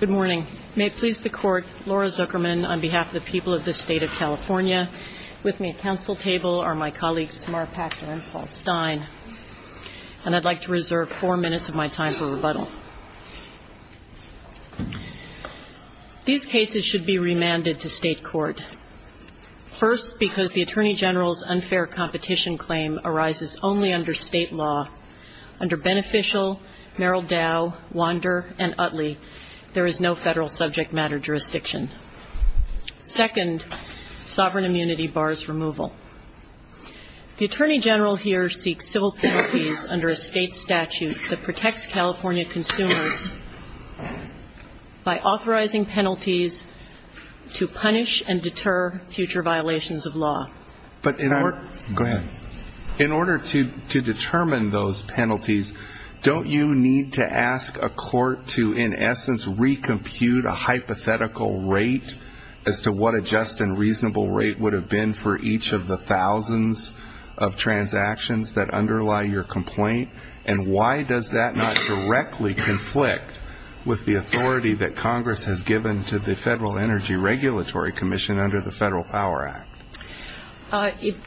Good morning. May it please the Court, Laura Zuckerman on behalf of the people of the State of California. With me at council table are my colleagues Tamara Paxman and Paul Stein. And I'd like to reserve four minutes of my time for rebuttal. These cases should be remanded to state court. First, because the Attorney General's unfair competition claim arises only under state law. Under Beneficial, Merrill Dow, Wander, and Utley, there is no federal subject matter jurisdiction. Second, sovereign immunity bars removal. The Attorney General here seeks civil penalties under a state statute that protects California consumers by authorizing penalties to punish and deter future violations of law. But in order to determine those penalties, don't you need to ask a court to in essence recompute a hypothetical rate as to what a just and reasonable rate would have been for each of the thousands of transactions that underlie your complaint? And why does that not directly conflict with the authority that Congress has given to the Federal Energy Regulatory Commission under the Federal Power Act?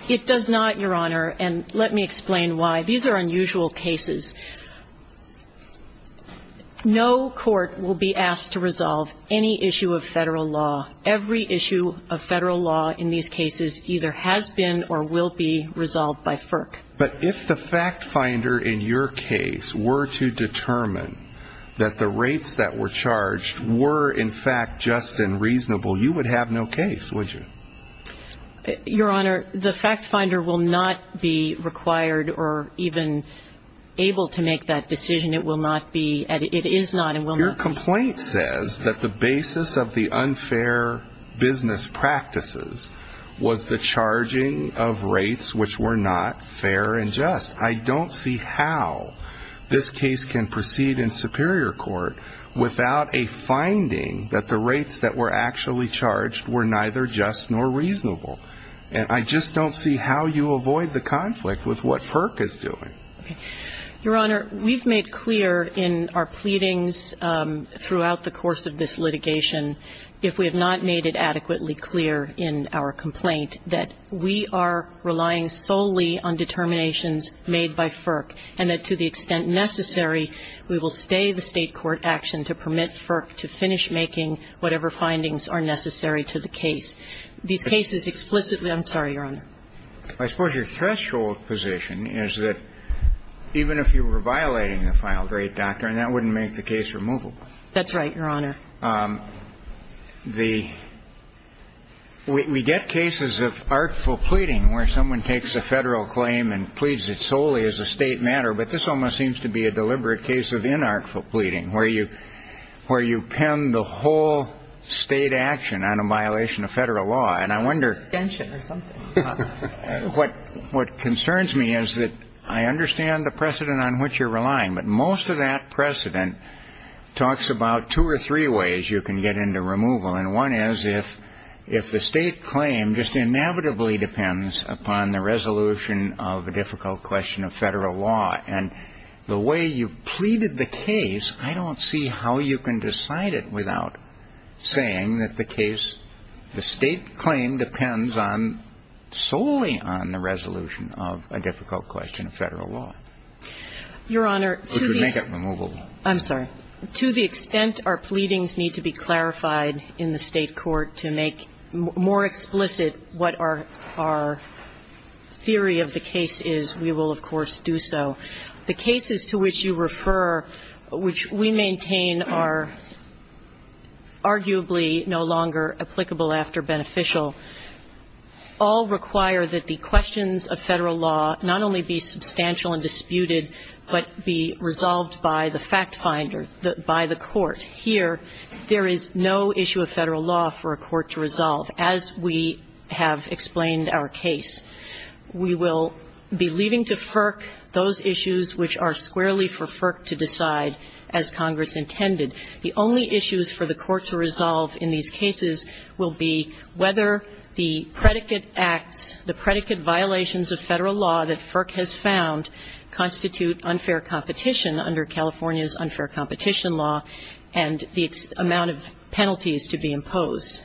It does not, Your Honor, and let me explain why. These are unusual cases. No court will be asked to resolve any issue of federal law. Every issue of federal law in these cases either has been or will be resolved by FERC. But if the fact finder in your case were to determine that the rates that were charged were in fact just and reasonable, you would have no case, would you? Your Honor, the fact finder will not be required or even able to make that decision. It will not be. It is not and will not be. Your complaint says that the basis of the unfair business practices was the charging of rates which were not fair and just. I don't see how this case can proceed in Superior Court without a finding that the rates that were actually charged were neither just nor reasonable. And I just don't see how you avoid the conflict with what FERC is doing. Your Honor, we've made clear in our pleadings throughout the course of this litigation, if we have not made it adequately clear in our complaint, that we are relying solely on determinations made by FERC, and that to the extent necessary, we will stay the State court action to permit FERC to finish making whatever findings are necessary to the case. These cases explicitly ‑‑ I'm sorry, Your Honor. I suppose your threshold position is that even if you were violating the final rate, Doctor, and that wouldn't make the case removable. That's right, Your Honor. We get cases of artful pleading where someone takes a Federal claim and pleads it solely as a State matter, but this almost seems to be a deliberate case of inartful pleading where you pin the whole State action on a violation of Federal law. And I wonder ‑‑ Extension or something. What concerns me is that I understand the precedent on which you're relying, but most of the time, there are two ways you can get into removal, and one is if the State claim just inevitably depends upon the resolution of a difficult question of Federal law, and the way you've pleaded the case, I don't see how you can decide it without saying that the case ‑‑ the State claim depends on ‑‑ solely on the resolution of a difficult question of Federal law. Your Honor, to the ‑‑ Which would make it removable. I'm sorry. To the extent our pleadings need to be clarified in the State court to make more explicit what our theory of the case is, we will, of course, do so. The cases to which you refer, which we maintain are arguably no longer applicable after beneficial, all require that the questions of Federal law not only be substantial and disputed, but be resolved by the fact finder, by the court. Here, there is no issue of Federal law for a court to resolve. As we have explained our case, we will be leaving to FERC those issues which are squarely for FERC to decide as Congress intended. The only issues for the court to resolve in these cases will be whether the predicate acts, the predicate violations of Federal law that FERC has found constitute unfair competition under California's unfair competition law, and the amount of penalties to be imposed.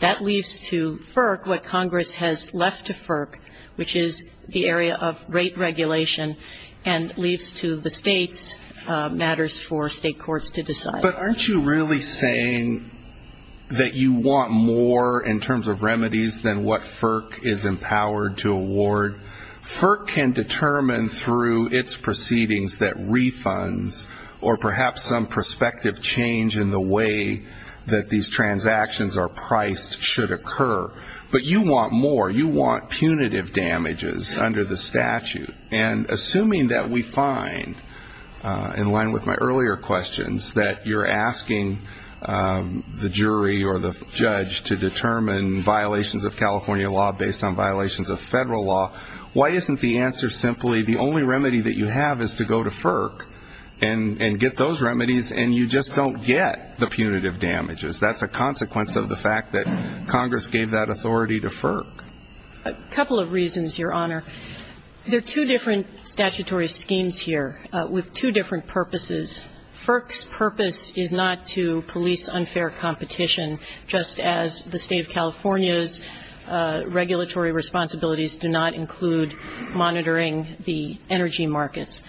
That leaves to FERC what Congress has left to FERC, which is the area of rate regulation, and leaves to the State's matters for State courts to decide. But aren't you really saying that you want more in terms of remedies than what FERC is refunds, or perhaps some prospective change in the way that these transactions are priced should occur? But you want more. You want punitive damages under the statute. And assuming that we find, in line with my earlier questions, that you're asking the jury or the judge to determine violations of California law based on violations of Federal law, why isn't the answer simply the only remedy that you have is to go to FERC and get those remedies and you just don't get the punitive damages? That's a consequence of the fact that Congress gave that authority to FERC. A couple of reasons, Your Honor. There are two different statutory schemes here with two different purposes. FERC's purpose is not to police unfair competition, just as the State of California's regulatory responsibilities do not include monitoring the energy markets.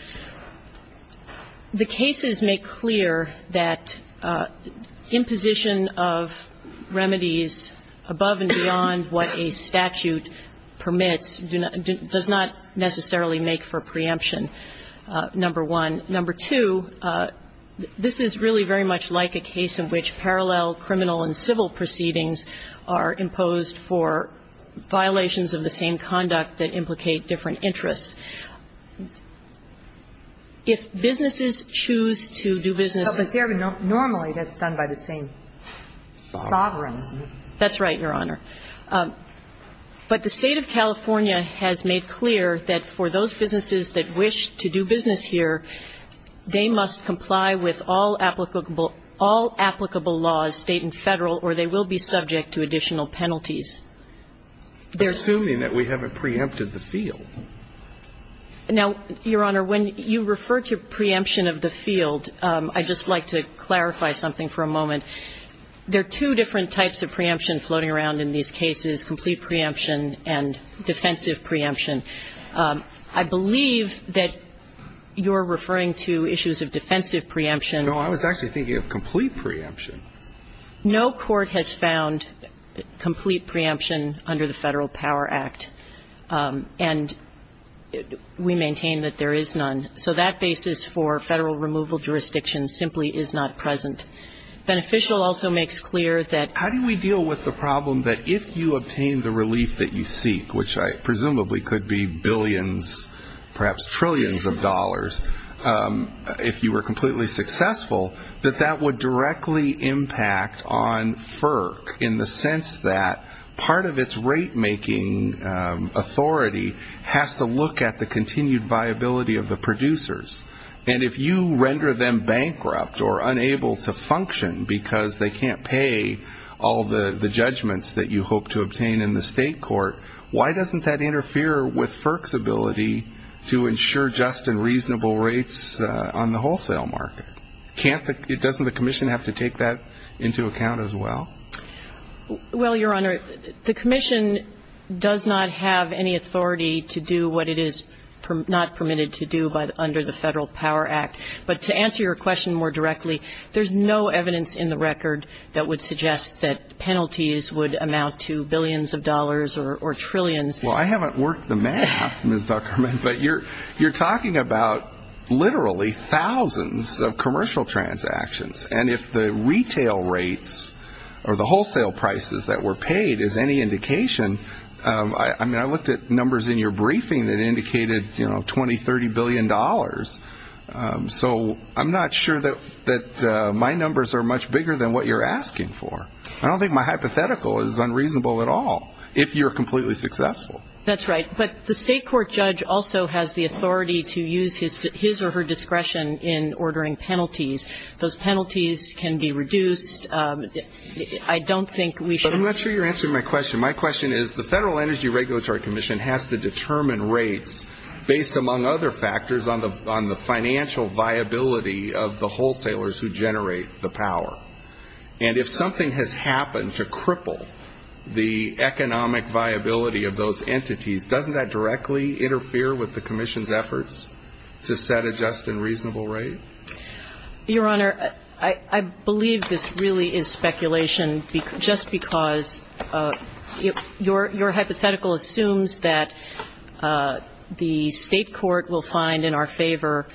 The cases make clear that imposition of remedies above and beyond what a statute permits does not necessarily make for preemption, number one. Number two, this is really very much like a case in which parallel criminal and civil proceedings are imposed for violations of the same conduct that implicate different interests. If businesses choose to do business as they're normally, that's done by the same sovereign, isn't it? That's right, Your Honor. But the State of California has made clear that for those businesses that wish to do business here, they must comply with all applicable laws, State and Federal, or they will be subject to additional penalties. They're assuming that we haven't preempted the field. Now, Your Honor, when you refer to preemption of the field, I'd just like to clarify something for a moment. There are two different types of preemption floating around in these cases, complete preemption and defensive preemption. I believe that you're referring to issues of defensive preemption. No, I was actually thinking of complete preemption. No court has found complete preemption under the Federal Power Act, and we maintain that there is none. So that basis for Federal removal jurisdiction simply is not present. Beneficial also makes clear that you obtain the relief that you seek, which I presumably could be billions, perhaps trillions of dollars, if you were completely successful, that that would directly impact on FERC in the sense that part of its rate-making authority has to look at the continued viability of the producers. And if you render them bankrupt or unable to function because they can't pay all the rates on the wholesale market, doesn't the commission have to take that into account as well? Well, Your Honor, the commission does not have any authority to do what it is not permitted to do under the Federal Power Act. But to answer your question more directly, there's no evidence in the record that would suggest that penalties would amount to billions of dollars or trillions. Well, I haven't worked the math, Ms. Zuckerman, but you're talking about literally thousands of commercial transactions. And if the retail rates or the wholesale prices that were paid is any indication, I mean, I looked at numbers in your briefing that indicated, you know, $20, $30 billion. So I'm not sure that my numbers are much bigger than what you're asking for. I don't think my hypothetical is unreasonable at all, if you're completely successful. That's right. But the state court judge also has the authority to use his or her discretion in ordering penalties. Those penalties can be reduced. I don't think we should But I'm not sure you're answering my question. My question is, the Federal Energy Regulatory Commission has to determine rates based, among other factors, on the financial viability of the wholesalers who generate the power. And if something has happened to cripple the economic viability of those entities, doesn't that directly interfere with the commission's efforts to set a just and reasonable rate? Your Honor, I believe this really is speculation just because your hypothetical assumes that the state court will find in our favor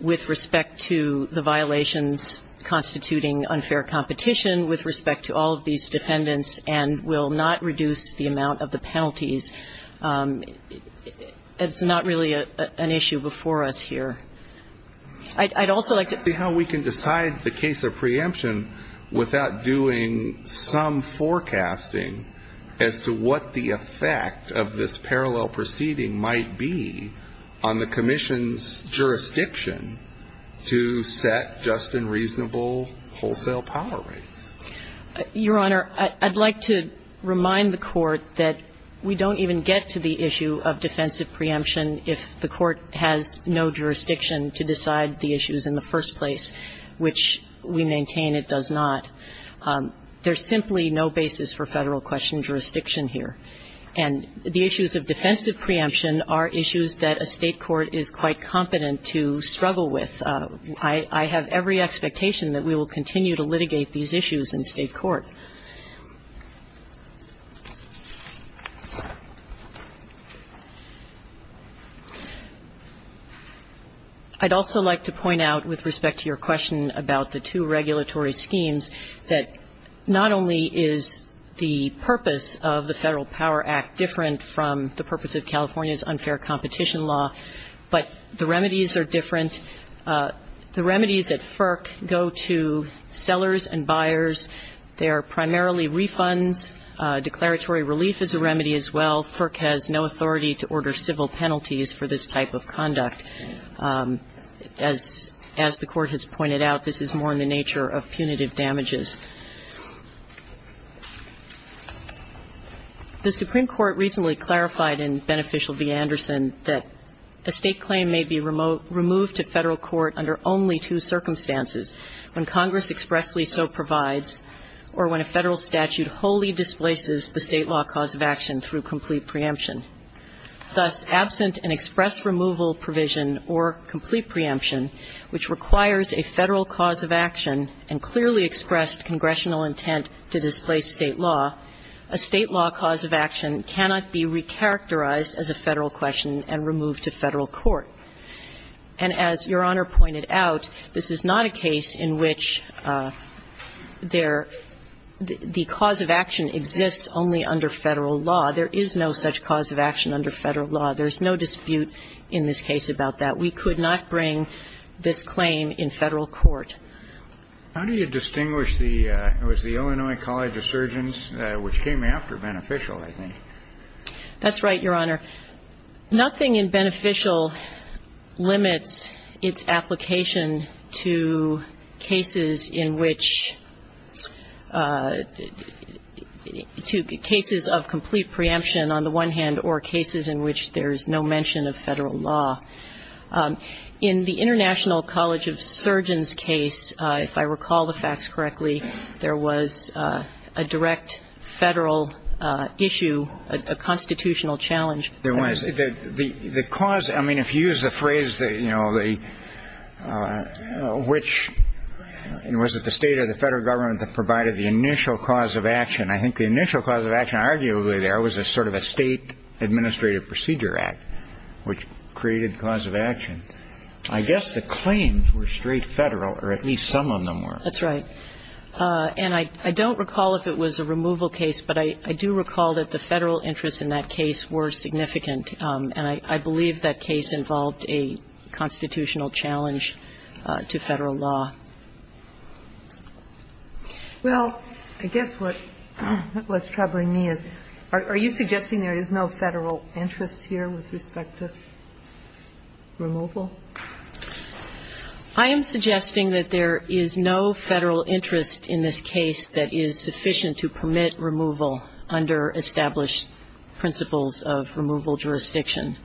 with respect to the financial violations constituting unfair competition, with respect to all of these defendants, and will not reduce the amount of the penalties. It's not really an issue before us here. I'd also like to See how we can decide the case of preemption without doing some forecasting as to what the effect of this parallel proceeding might be on the commission's jurisdiction to set just and reasonable wholesale power rates. Your Honor, I'd like to remind the Court that we don't even get to the issue of defensive preemption if the Court has no jurisdiction to decide the issues in the first place, which we maintain it does not. There's simply no basis for Federal question jurisdiction here. And the issues of defensive preemption are issues that a state court is quite competent to struggle with. I have every expectation that we will continue to litigate these issues in state court. I'd also like to point out with respect to your question about the two regulatory schemes, that not only is the purpose of the Federal Power Act different from the The remedies at FERC go to sellers and buyers. They are primarily refunds. Declaratory relief is a remedy as well. FERC has no authority to order civil penalties for this type of conduct. As the Court has pointed out, this is more in the nature of punitive damages. The Supreme Court recently clarified in Beneficial v. Anderson that a state claim may be removed to Federal court under only two circumstances, when Congress expressly so provides or when a Federal statute wholly displaces the state law cause of action through complete preemption. Thus, absent an express removal provision or complete preemption, which requires a Federal cause of action and clearly expressed congressional intent to displace state law, a state law cause of action And as Your Honor pointed out, this is not a case in which there the cause of action exists only under Federal law. There is no such cause of action under Federal law. There is no dispute in this case about that. We could not bring this claim in Federal court. How do you distinguish the, it was the Illinois College of Surgeons which came after Beneficial, I think. That's right, Your Honor. Nothing in Beneficial limits its application to cases in which, to cases of complete preemption, on the one hand, or cases in which there is no mention of Federal law. In the International College of Surgeons case, if I recall the facts correctly, there was a direct Federal issue with the state of Illinois which was a constitutional challenge. The cause, I mean, if you use the phrase, you know, which, was it the state or the Federal government that provided the initial cause of action, I think the initial cause of action arguably there was a sort of a state administrative procedure act which created cause of action. I guess the claims were straight Federal or at least some of them were. That's right. And I don't recall if it was a removal case, but I do recall that the Federal interests in that case were significant. And I believe that case involved a constitutional challenge to Federal law. Well, I guess what's troubling me is, are you suggesting there is no Federal interest here with respect to removal? I am suggesting that there is no Federal interest in this case that is sufficient to permit removal under established principles of removal jurisdiction.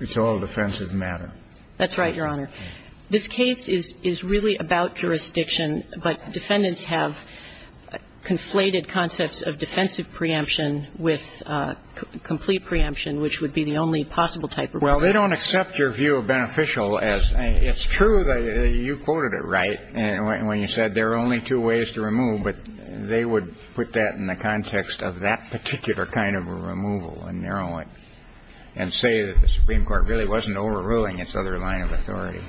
It's all a defensive matter. That's right, Your Honor. This case is really about jurisdiction, but defendants have conflated concepts of defensive preemption with complete preemption, which would be the only possible type of preemption. Well, they don't accept your view of beneficial. It's true that you quoted it right when you said there are only two ways to remove, but they would put that in the context of that particular kind of a removal and narrow it and say that the Supreme Court really wasn't overruling its other line of authority.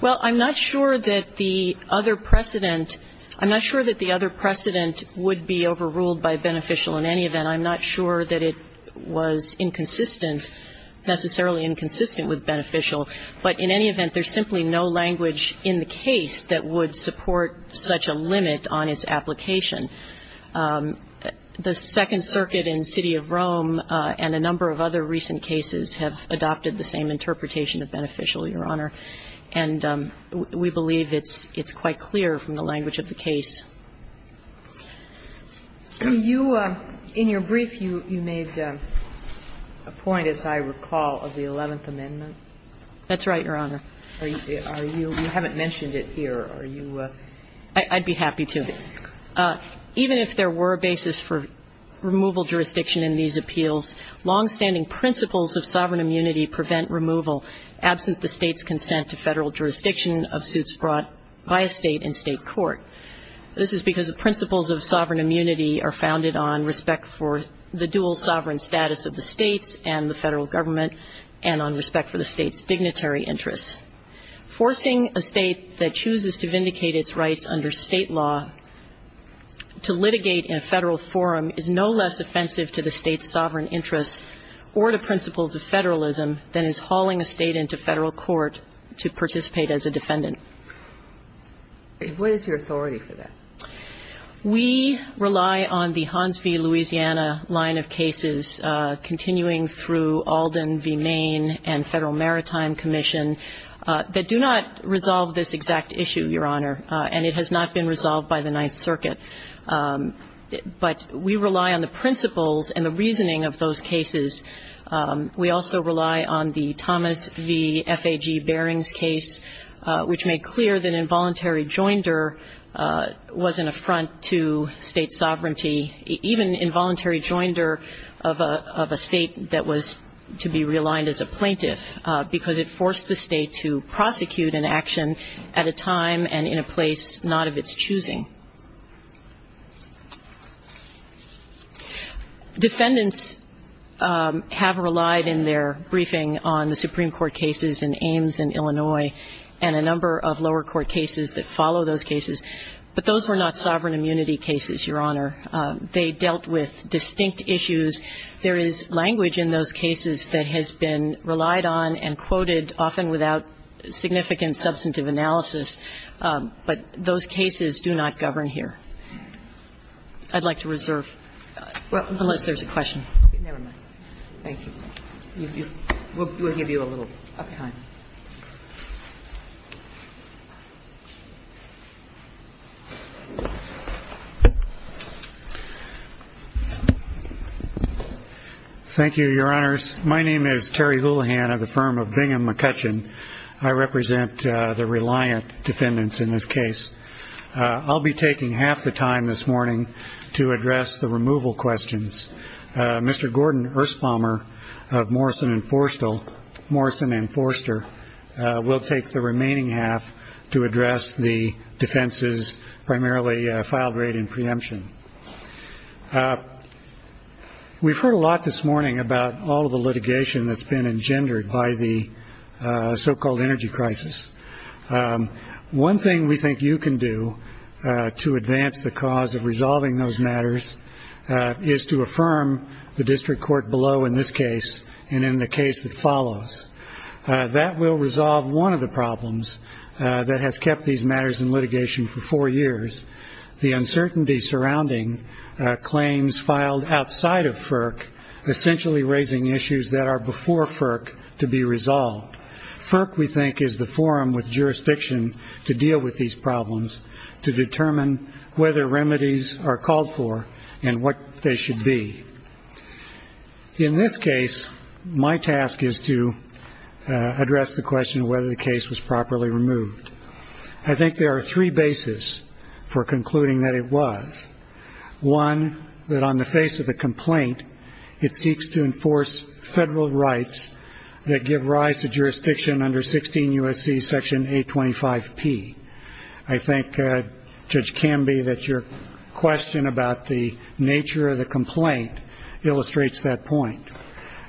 Well, I'm not sure that the other precedent – I'm not sure that the other precedent would be overruled by beneficial in any event. And I'm not sure that it was inconsistent, necessarily inconsistent with beneficial, but in any event, there's simply no language in the case that would support such a limit on its application. The Second Circuit in the City of Rome and a number of other recent cases have adopted the same interpretation of beneficial, Your Honor, and we believe it's quite clear from the language of the case. Do you – in your brief, you made a point, as I recall, of the Eleventh Amendment. That's right, Your Honor. Are you – you haven't mentioned it here. Are you – I'd be happy to. Even if there were a basis for removal jurisdiction in these appeals, longstanding principles of sovereign immunity prevent removal absent the State's consent to Federal jurisdiction of suits brought by a State and State court. This is because the principles of sovereign immunity are founded on respect for the dual sovereign status of the States and the Federal Government and on respect for the State's dignitary interests. Forcing a State that chooses to vindicate its rights under State law to litigate in a Federal forum is no less offensive to the State's sovereign interests or to principles of Federalism than is hauling a State into Federal court to participate as a defendant. What is your authority for that? We rely on the Hans v. Louisiana line of cases, continuing through Alden v. Maine and Federal Maritime Commission, that do not resolve this exact issue, Your Honor, and it has not been resolved by the Ninth Circuit. But we rely on the principles and the reasoning of those cases. We also rely on the Thomas v. F.A.G. Barings case, which made clear that involuntary joinder was an affront to State sovereignty, even involuntary joinder of a State that was to be realigned as a plaintiff, because it forced the State to prosecute an action at a time and in a place not of its choosing. Defendants have relied in their briefing on the Supreme Court cases in Ames and Illinois and a number of lower court cases that follow those cases, but those were not sovereign immunity cases, Your Honor. They dealt with distinct issues. There is language in those cases that has been relied on and quoted, often without significant substantive analysis, but those cases do not govern here. I'd like to reserve unless there's a question. Never mind. Thank you. We'll give you a little uptime. Thank you, Your Honors. My name is Terry Houlihan of the firm of Bingham McCutcheon. I represent the reliant defendants in this case. I'll be taking half the time this morning to address the removal questions. Mr. Gordon Erstbommer of Morrison and Forster will take the remaining half to address the defense's primarily filed rate in preemption. We've heard a lot this morning about all of the litigation that's been engendered by the so-called energy crisis. One thing we think you can do to advance the cause of resolving those matters is to affirm the district court below in this case and in the case that follows. That will resolve one of the problems that has kept these matters in litigation for four years, the uncertainty surrounding claims filed outside of FERC, essentially raising issues that are before FERC to be resolved. FERC, we think, is the forum with jurisdiction to deal with these problems, to determine whether remedies are called for and what they should be. In this case, my task is to address the question of whether the case was properly removed. I think there are three bases for concluding that it was. One, that on the face of the complaint, it seeks to enforce federal rights that give rise to jurisdiction under 16 U.S.C. Section 825P. I think, Judge Camby, that your question about the nature of the complaint illustrates that point.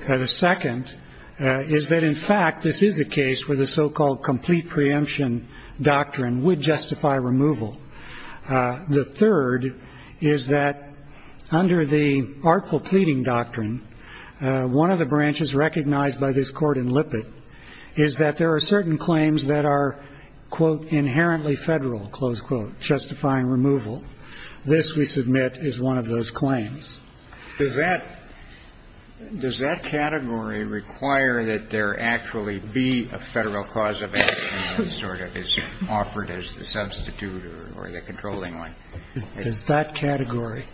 The second is that, in fact, this is a case where the so-called complete preemption doctrine would justify removal. The third is that under the artful pleading doctrine, one of the branches recognized by this Court in Lippitt is that there are certain claims that are, quote, inherently federal, close quote, justifying removal. This, we submit, is one of those claims. Does that category require that there actually be a federal cause of action that sort of is offered as the substitute or the controlling one? It's that category.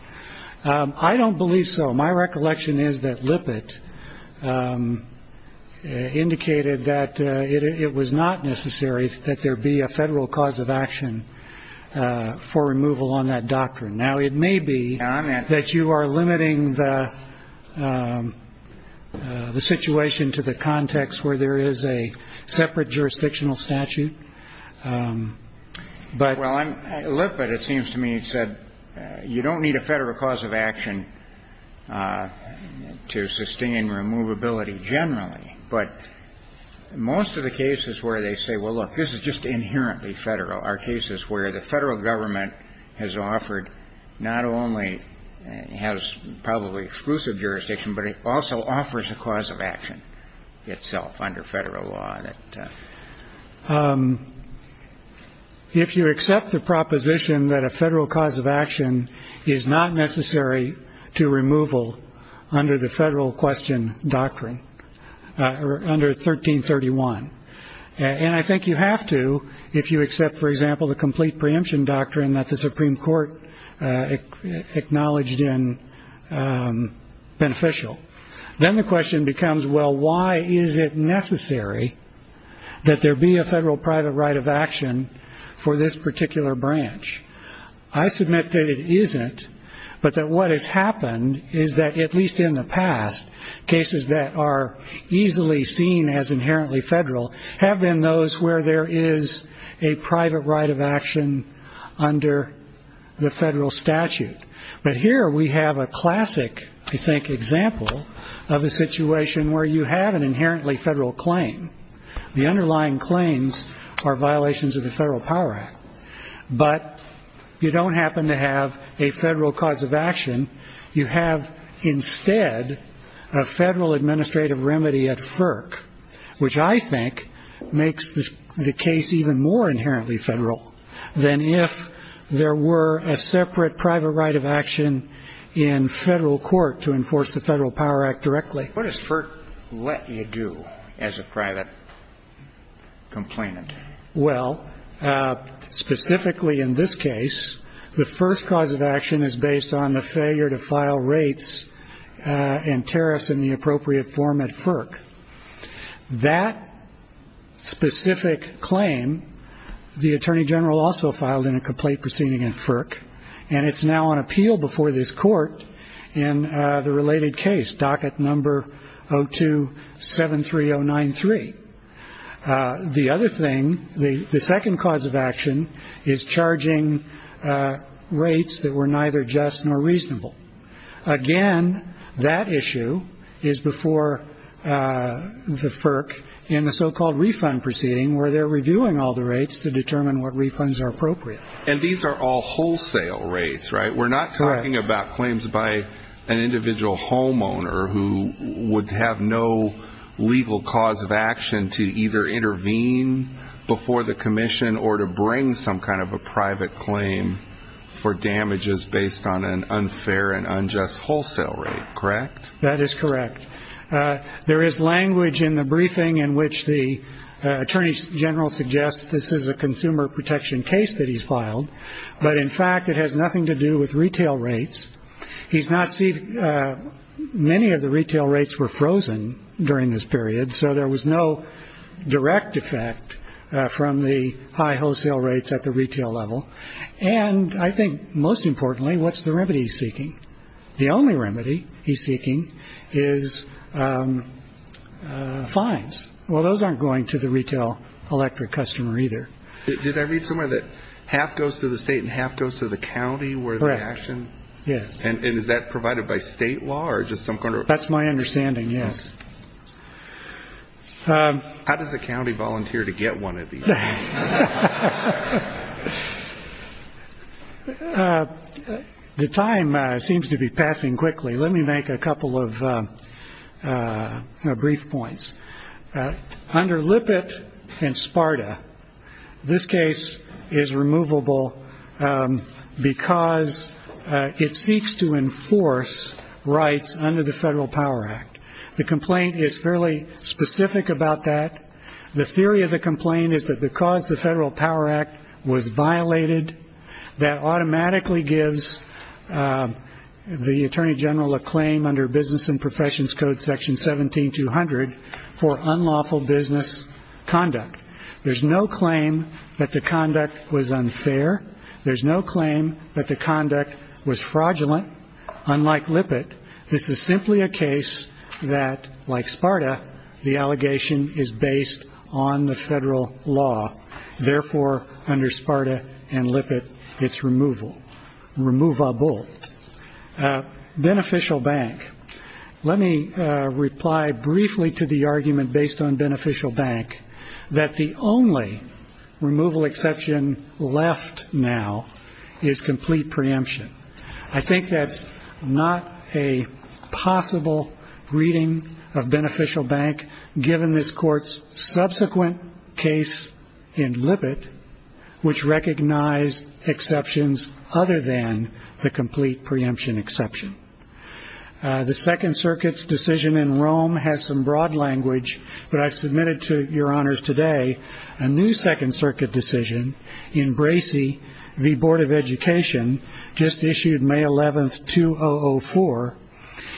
I don't believe so. My recollection is that Lippitt indicated that it was not necessary that there be a federal cause of action for removal on that doctrine. Now, it may be that you are limiting the situation to the context where there is a separate jurisdictional statute, but ‑‑ Well, Lippitt, it seems to me, said you don't need a federal cause of action to sustain removability generally. But most of the cases where they say, well, look, this is just inherently federal are cases where the federal government has offered not only has probably exclusive jurisdiction, but it also offers a cause of action itself under federal law. If you accept the proposition that a federal cause of action is not necessary to removal under the federal question doctrine, or under 1331, and I think you have to if you accept, for example, the complete preemption doctrine that the Supreme Court acknowledged in beneficial. Then the question becomes, well, why is it necessary that there be a federal private right of action for this particular branch? I submit that it isn't, but that what has happened is that at least in the past, cases that are easily seen as inherently federal have been those where there is a private right of action under the federal statute. But here we have a classic, I think, example of a situation where you have an inherently federal claim. The underlying claims are violations of the Federal Power Act. But you don't happen to have a federal cause of action. You have instead a federal administrative remedy at FERC, which I think makes the case even more inherently federal than if there were a separate private right of action in federal court to enforce the Federal Power Act directly. What does FERC let you do as a private complainant? Well, specifically in this case, the first cause of action is based on the failure to file rates and tariffs in the appropriate form at FERC. That specific claim, the attorney general also filed in a complaint proceeding at FERC, and it's now on appeal before this court in the related case, docket number 0273093. The other thing, the second cause of action is charging rates that were neither just nor reasonable. Again, that issue is before the FERC in the so-called refund proceeding, where they're reviewing all the rates to determine what refunds are appropriate. And these are all wholesale rates, right? We're not talking about claims by an individual homeowner who would have no legal cause of action to either intervene before the commission or to bring some kind of a private claim for damages based on an unfair and unjust wholesale rate, correct? That is correct. There is language in the briefing in which the attorney general suggests this is a consumer protection case that he's filed, but in fact it has nothing to do with retail rates. Many of the retail rates were frozen during this period, so there was no direct effect from the high wholesale rates at the retail level. And I think most importantly, what's the remedy he's seeking? The only remedy he's seeking is fines. Well, those aren't going to the retail electric customer either. Did I read somewhere that half goes to the state and half goes to the county where the action? Yes. And is that provided by state law or just some kind of? That's my understanding, yes. How does a county volunteer to get one of these? The time seems to be passing quickly. Let me make a couple of brief points. Under Lippitt and Sparta, this case is removable because it seeks to enforce rights under the Federal Power Act. The complaint is fairly specific about that. The theory of the complaint is that because the Federal Power Act was violated, that automatically gives the Attorney General a claim under Business and Professions Code Section 17200 for unlawful business conduct. There's no claim that the conduct was unfair. There's no claim that the conduct was fraudulent. Unlike Lippitt, this is simply a case that, like Sparta, the allegation is based on the Federal law. Therefore, under Sparta and Lippitt, it's removable. Beneficial bank. Let me reply briefly to the argument based on beneficial bank that the only removal exception left now is complete preemption. I think that's not a possible reading of beneficial bank, given this Court's subsequent case in Lippitt, which recognized exceptions other than the complete preemption exception. The Second Circuit's decision in Rome has some broad language, but I've submitted to your honors today a new Second Circuit decision in Bracey v. Board of Education, just issued May 11th, 2004.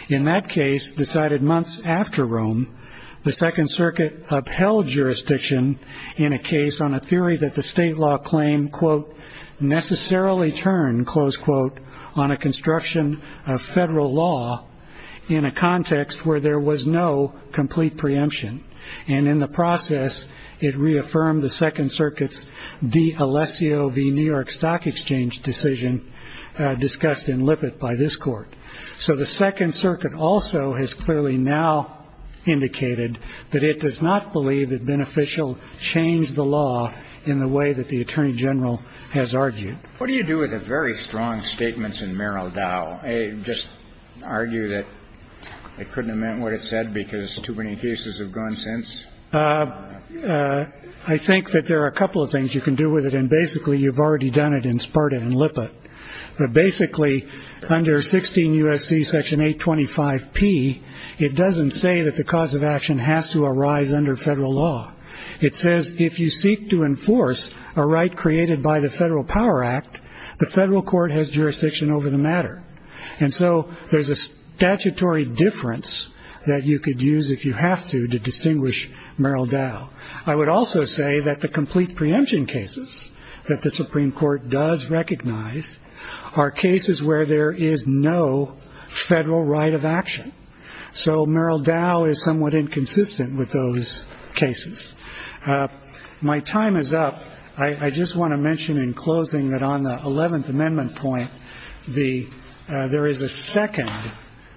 In that case, decided months after Rome, the Second Circuit upheld jurisdiction in a case on a theory that the state law claim, quote, And in the process, it reaffirmed the Second Circuit's d'Alessio v. New York Stock Exchange decision discussed in Lippitt by this Court. So the Second Circuit also has clearly now indicated that it does not believe that beneficial changed the law in the way that the Attorney General has argued. What do you do with a very strong statements in Merrill Dow? I just argue that it couldn't have meant what it said because too many cases have gone since. I think that there are a couple of things you can do with it. And basically, you've already done it in Sparta and Lippitt. But basically, under 16 U.S.C. Section 825 P, it doesn't say that the cause of action has to arise under federal law. It says if you seek to enforce a right created by the Federal Power Act, the federal court has jurisdiction over the matter. And so there's a statutory difference that you could use if you have to distinguish Merrill Dow. I would also say that the complete preemption cases that the Supreme Court does recognize are cases where there is no federal right of action. So Merrill Dow is somewhat inconsistent with those cases. My time is up. I just want to mention in closing that on the Eleventh Amendment point, there is a second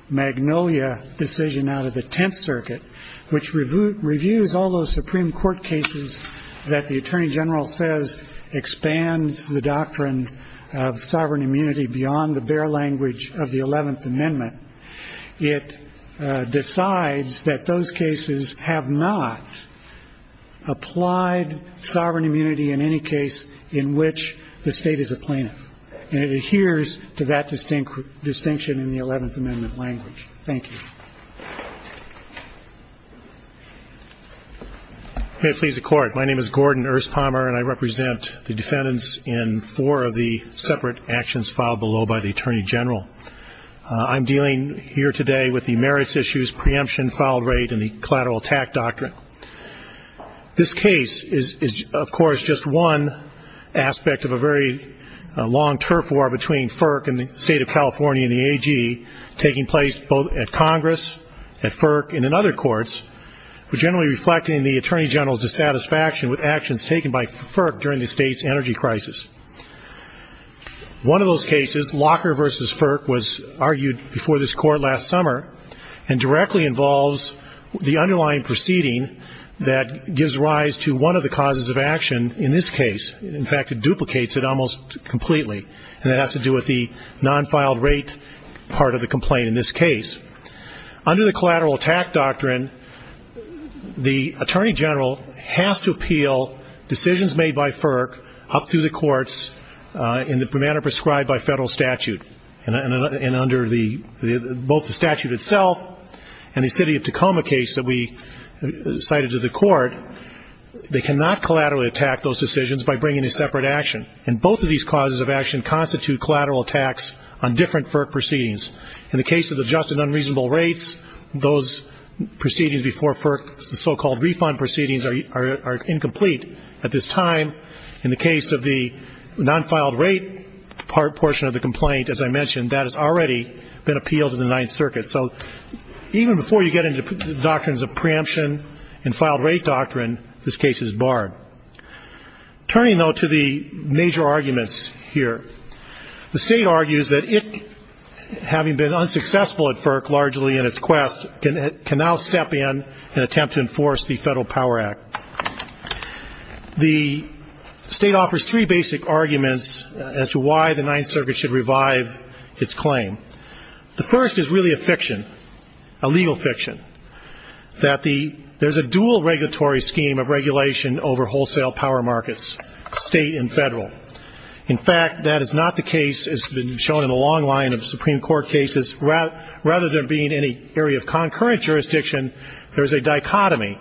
Magnolia decision out of the Tenth Circuit, which reviews all those Supreme Court cases that the Attorney General says expands the doctrine of sovereign immunity beyond the bare language of the Eleventh Amendment. It decides that those cases have not applied sovereign immunity in any case in which the state is a plaintiff. And it adheres to that distinction in the Eleventh Amendment language. Thank you. May it please the Court, my name is Gordon Erspommer, and I represent the defendants in four of the separate actions filed below by the Attorney General. I'm dealing here today with the merits issues, preemption, filed rate, and the collateral attack doctrine. This case is, of course, just one aspect of a very long turf war between FERC and the State of California and the AG, taking place both at Congress, at FERC, and in other courts, but generally reflecting the Attorney General's dissatisfaction with actions taken by FERC during the state's energy crisis. One of those cases, Locker v. FERC, was argued before this Court last summer and directly involves the underlying proceeding that gives rise to one of the causes of action in this case. In fact, it duplicates it almost completely, and it has to do with the non-filed rate part of the complaint in this case. Under the collateral attack doctrine, the Attorney General has to appeal decisions made by FERC up through the courts in the manner prescribed by federal statute, and under both the statute itself and the City of Tacoma case that we cited to the Court, they cannot collaterally attack those decisions by bringing a separate action, and both of these causes of action constitute collateral attacks on different FERC proceedings. In the case of the just and unreasonable rates, those proceedings before FERC, the so-called refund proceedings, are incomplete at this time. In the case of the non-filed rate portion of the complaint, as I mentioned, that has already been appealed in the Ninth Circuit. So even before you get into the doctrines of preemption and filed rate doctrine, this case is barred. Turning, though, to the major arguments here, the State argues that it, having been unsuccessful at FERC largely in its quest, can now step in and attempt to enforce the Federal Power Act. The State offers three basic arguments as to why the Ninth Circuit should revive its claim. The first is really a fiction, a legal fiction, that there's a dual regulatory scheme of regulation over wholesale power markets, State and Federal. In fact, that is not the case, as has been shown in a long line of Supreme Court cases. Rather than being in an area of concurrent jurisdiction, there is a dichotomy,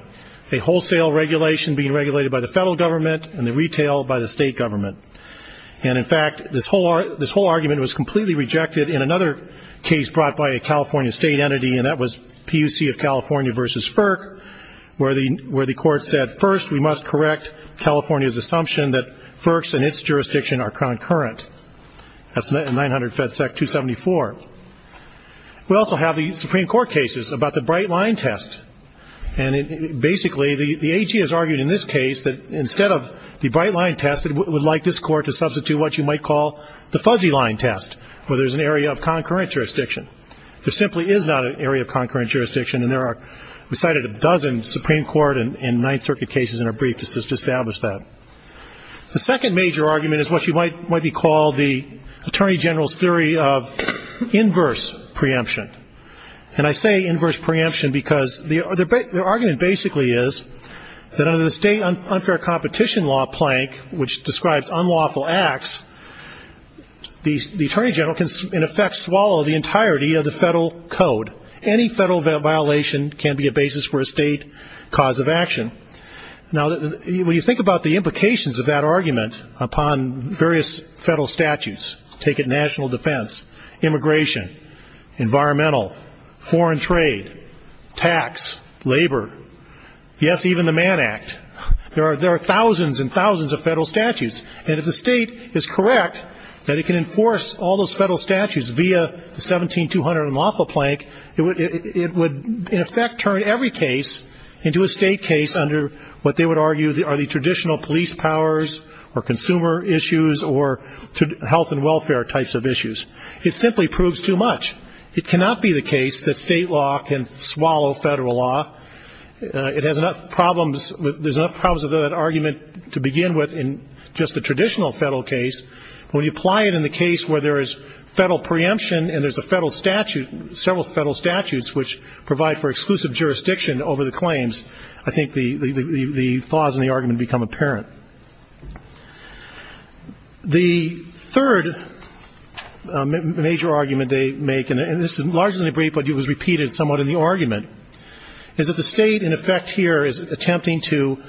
a wholesale regulation being regulated by the Federal Government and the retail by the State Government. And, in fact, this whole argument was completely rejected in another case brought by a California State entity, and that was PUC of California v. FERC, where the Court said, First, we must correct California's assumption that FERC's and its jurisdiction are concurrent. That's 900 FEDSEC 274. We also have the Supreme Court cases about the bright line test. And, basically, the AG has argued in this case that, instead of the bright line test, it would like this Court to substitute what you might call the fuzzy line test, where there's an area of concurrent jurisdiction. There simply is not an area of concurrent jurisdiction, and we cited a dozen Supreme Court and Ninth Circuit cases in our brief to establish that. The second major argument is what might be called the Attorney General's theory of inverse preemption. And I say inverse preemption because their argument, basically, is that under the State unfair competition law plank, which describes unlawful acts, the Attorney General can, in effect, swallow the entirety of the federal code. Any federal violation can be a basis for a State cause of action. Now, when you think about the implications of that argument upon various federal statutes, take it national defense, immigration, environmental, foreign trade, tax, labor, yes, even the Mann Act, there are thousands and thousands of federal statutes. And if the State is correct that it can enforce all those federal statutes via the 17-200 unlawful plank, it would, in effect, turn every case into a State case under what they would argue are the traditional police powers or consumer issues or health and welfare types of issues. It simply proves too much. It cannot be the case that State law can swallow federal law. It has enough problems, there's enough problems with that argument to begin with in just the traditional federal case. When you apply it in the case where there is federal preemption and there's a federal statute, several federal statutes which provide for exclusive jurisdiction over the claims, I think the flaws in the argument become apparent. The third major argument they make, and this is largely in the brief, but it was repeated somewhat in the argument, is that the State in effect here is attempting to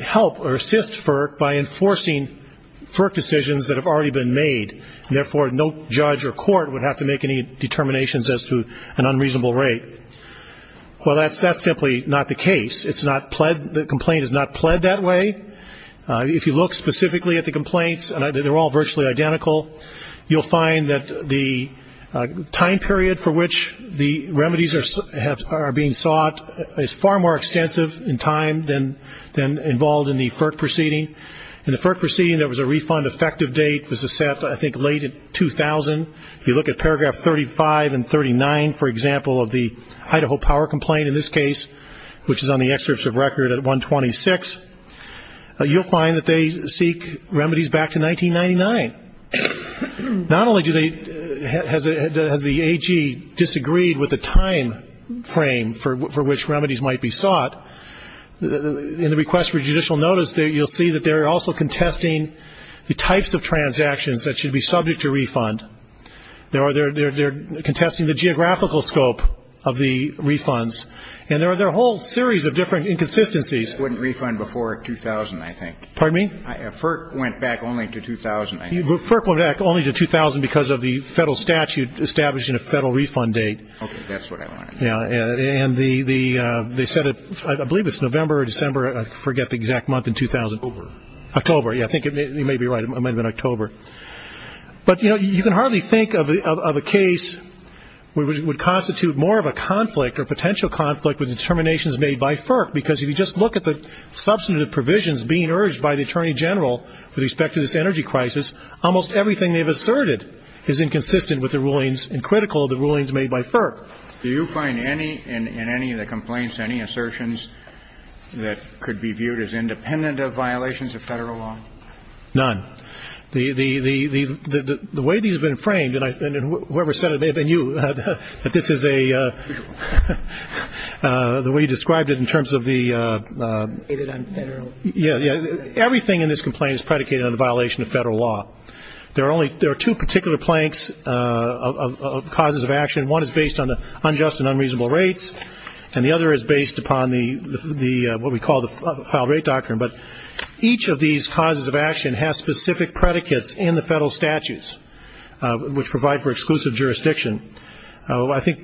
help or assist FERC by enforcing FERC decisions that have already been made, and therefore no judge or court would have to make any determinations as to an unreasonable rate. Well, that's simply not the case. It's not pled, the complaint is not pled that way. If you look specifically at the complaints, and they're all virtually identical, you'll find that the time period for which the remedies are being sought is far more extensive in time than involved in the FERC proceeding. In the FERC proceeding, there was a refund effective date. This is set, I think, late in 2000. If you look at paragraph 35 and 39, for example, of the Idaho power complaint in this case, which is on the excerpts of record at 126, you'll find that they seek remedies back to 1999. Not only has the AG disagreed with the time frame for which remedies might be sought, in the request for judicial notice you'll see that they're also contesting the types of transactions that should be subject to refund. They're contesting the geographical scope of the refunds. And there are a whole series of different inconsistencies. It wouldn't refund before 2000, I think. Pardon me? FERC went back only to 2000, I think. FERC went back only to 2000 because of the federal statute established in a federal refund date. Okay, that's what I wanted to know. Yeah, and they set it, I believe it's November or December, I forget the exact month, in 2000. October. October, yeah, I think you may be right. It might have been October. But, you know, you can hardly think of a case where it would constitute more of a conflict or potential conflict with determinations made by FERC, because if you just look at the substantive provisions being urged by the Attorney General with respect to this energy crisis, almost everything they've asserted is inconsistent with the rulings and critical of the rulings made by FERC. Do you find in any of the complaints any assertions that could be viewed as independent of violations of federal law? None. The way these have been framed, and whoever said it may have been you, that this is a, the way you described it in terms of the... Everything in this complaint is predicated on the violation of federal law. There are two particular planks of causes of action. One is based on unjust and unreasonable rates, and the other is based upon what we call the filed rate doctrine. But each of these causes of action has specific predicates in the federal statutes, which provide for exclusive jurisdiction. I think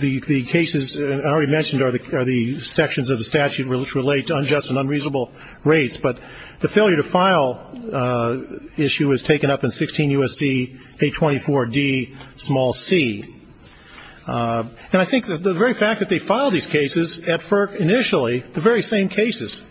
the cases I already mentioned are the sections of the statute which relate to unjust and unreasonable rates. But the failure to file issue was taken up in 16 U.S.C. 824d, small c. And I think the very fact that they filed these cases at FERC initially, the very same cases,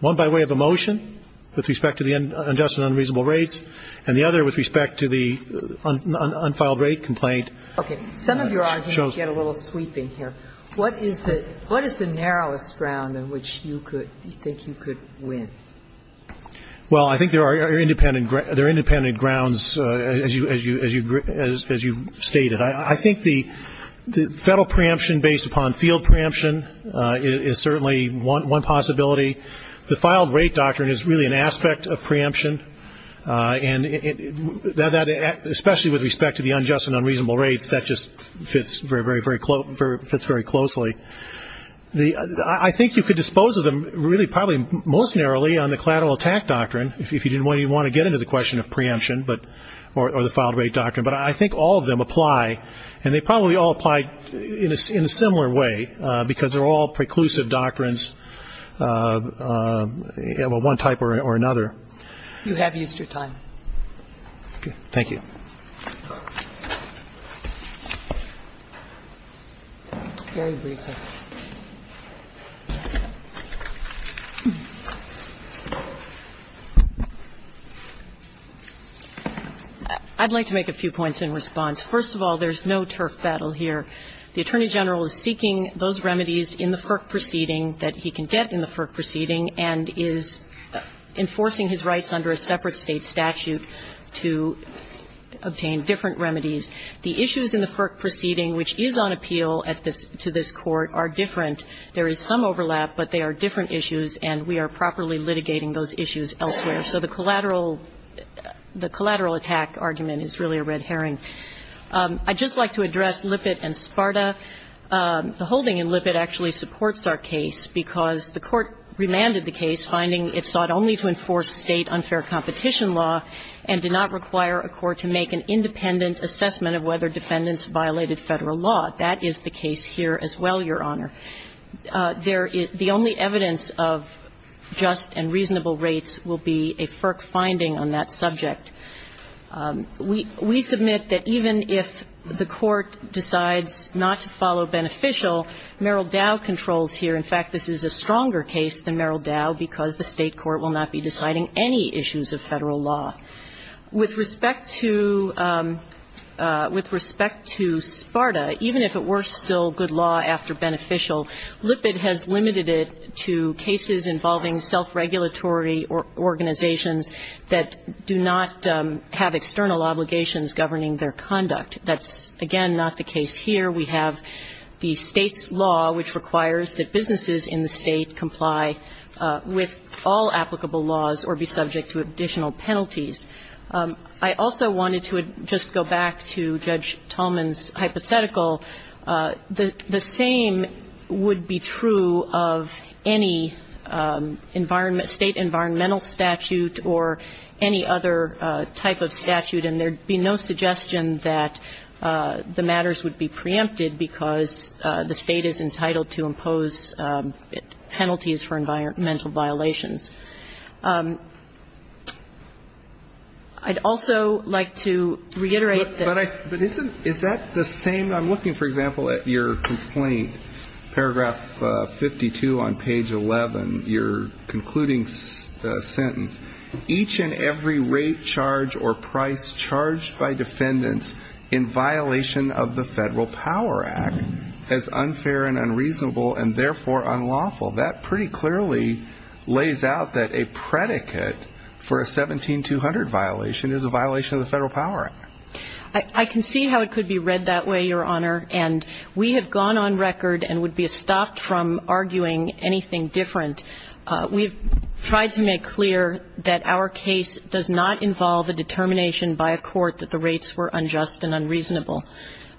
one by way of a motion with respect to the unjust and unreasonable rates, and the other with respect to the unfiled rate complaint. Okay. Some of your arguments get a little sweeping here. What is the, what is the narrowest ground in which you could, you think you could win? Well, I think there are independent, there are independent grounds, as you, as you, as you stated. I think the federal preemption based upon field preemption is certainly one possibility. The filed rate doctrine is really an aspect of preemption, and especially with respect to the unjust and unreasonable rates, that just fits very, very closely. I think you could dispose of them really probably most narrowly on the collateral attack doctrine, if you didn't want to get into the question of preemption, or the filed rate doctrine. But I think all of them apply, and they probably all apply in a similar way, because they're all preclusive doctrines of one type or another. You have used your time. Okay. Thank you. Very briefly. I'd like to make a few points in response. First of all, there's no turf battle here. The Attorney General is seeking those remedies in the FERC proceeding that he can get in the FERC proceeding and is enforcing his rights under a separate State statute to obtain different remedies. The issues in the FERC proceeding which is on appeal at this to this Court are different. There is some overlap, but they are different issues, and we are properly litigating those issues elsewhere. So the collateral, the collateral attack argument is really a red herring. I'd just like to address Lippitt and Sparta. The holding in Lippitt actually supports our case because the Court remanded the case, finding it sought only to enforce State unfair competition law and did not violate Federal law. That is the case here as well, Your Honor. The only evidence of just and reasonable rates will be a FERC finding on that subject. We submit that even if the Court decides not to follow beneficial, Merrill Dow controls here. In fact, this is a stronger case than Merrill Dow because the State court will not be deciding any issues of Federal law. With respect to Sparta, even if it were still good law after beneficial, Lippitt has limited it to cases involving self-regulatory organizations that do not have external obligations governing their conduct. That's, again, not the case here. We have the State's law which requires that businesses in the State comply with all I also wanted to just go back to Judge Tolman's hypothetical. The same would be true of any State environmental statute or any other type of statute, and there would be no suggestion that the matters would be preempted because the State is entitled to impose penalties for environmental violations. I'd also like to reiterate that Is that the same? I'm looking, for example, at your complaint, paragraph 52 on page 11, your concluding sentence. Each and every rate charge or price charged by defendants in violation of the Federal Power Act is unfair and unreasonable and, therefore, unlawful. That pretty clearly lays out that a predicate for a 17-200 violation is a violation of the Federal Power Act. I can see how it could be read that way, Your Honor, and we have gone on record and would be stopped from arguing anything different. We've tried to make clear that our case does not involve a determination by a court that the rates were unjust and unreasonable.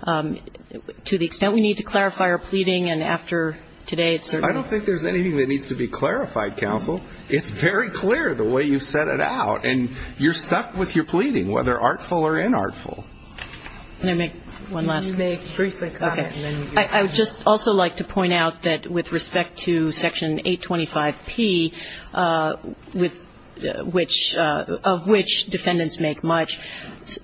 To the extent we need to clarify our pleading, and after today, it's certain. I don't think there's anything that needs to be clarified, counsel. It's very clear the way you set it out, and you're stuck with your pleading, whether artful or inartful. Can I make one last comment? You may briefly comment, and then we'll hear from you. Okay. I would just also like to point out that with respect to Section 825P, with which defendants make much,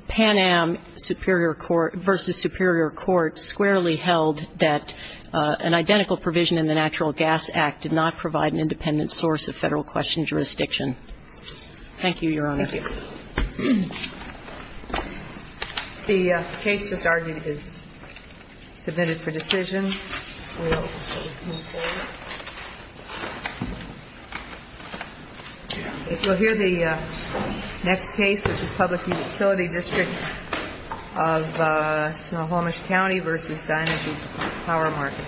Pan Am versus Superior Court squarely held that an identical provision in the Natural Gas Act did not provide an independent source of Federal question jurisdiction. Thank you, Your Honor. Thank you. The case just argued is submitted for decision. We'll hear the next case, which is Public Utility District of Snohomish County versus Dinergy Power Market.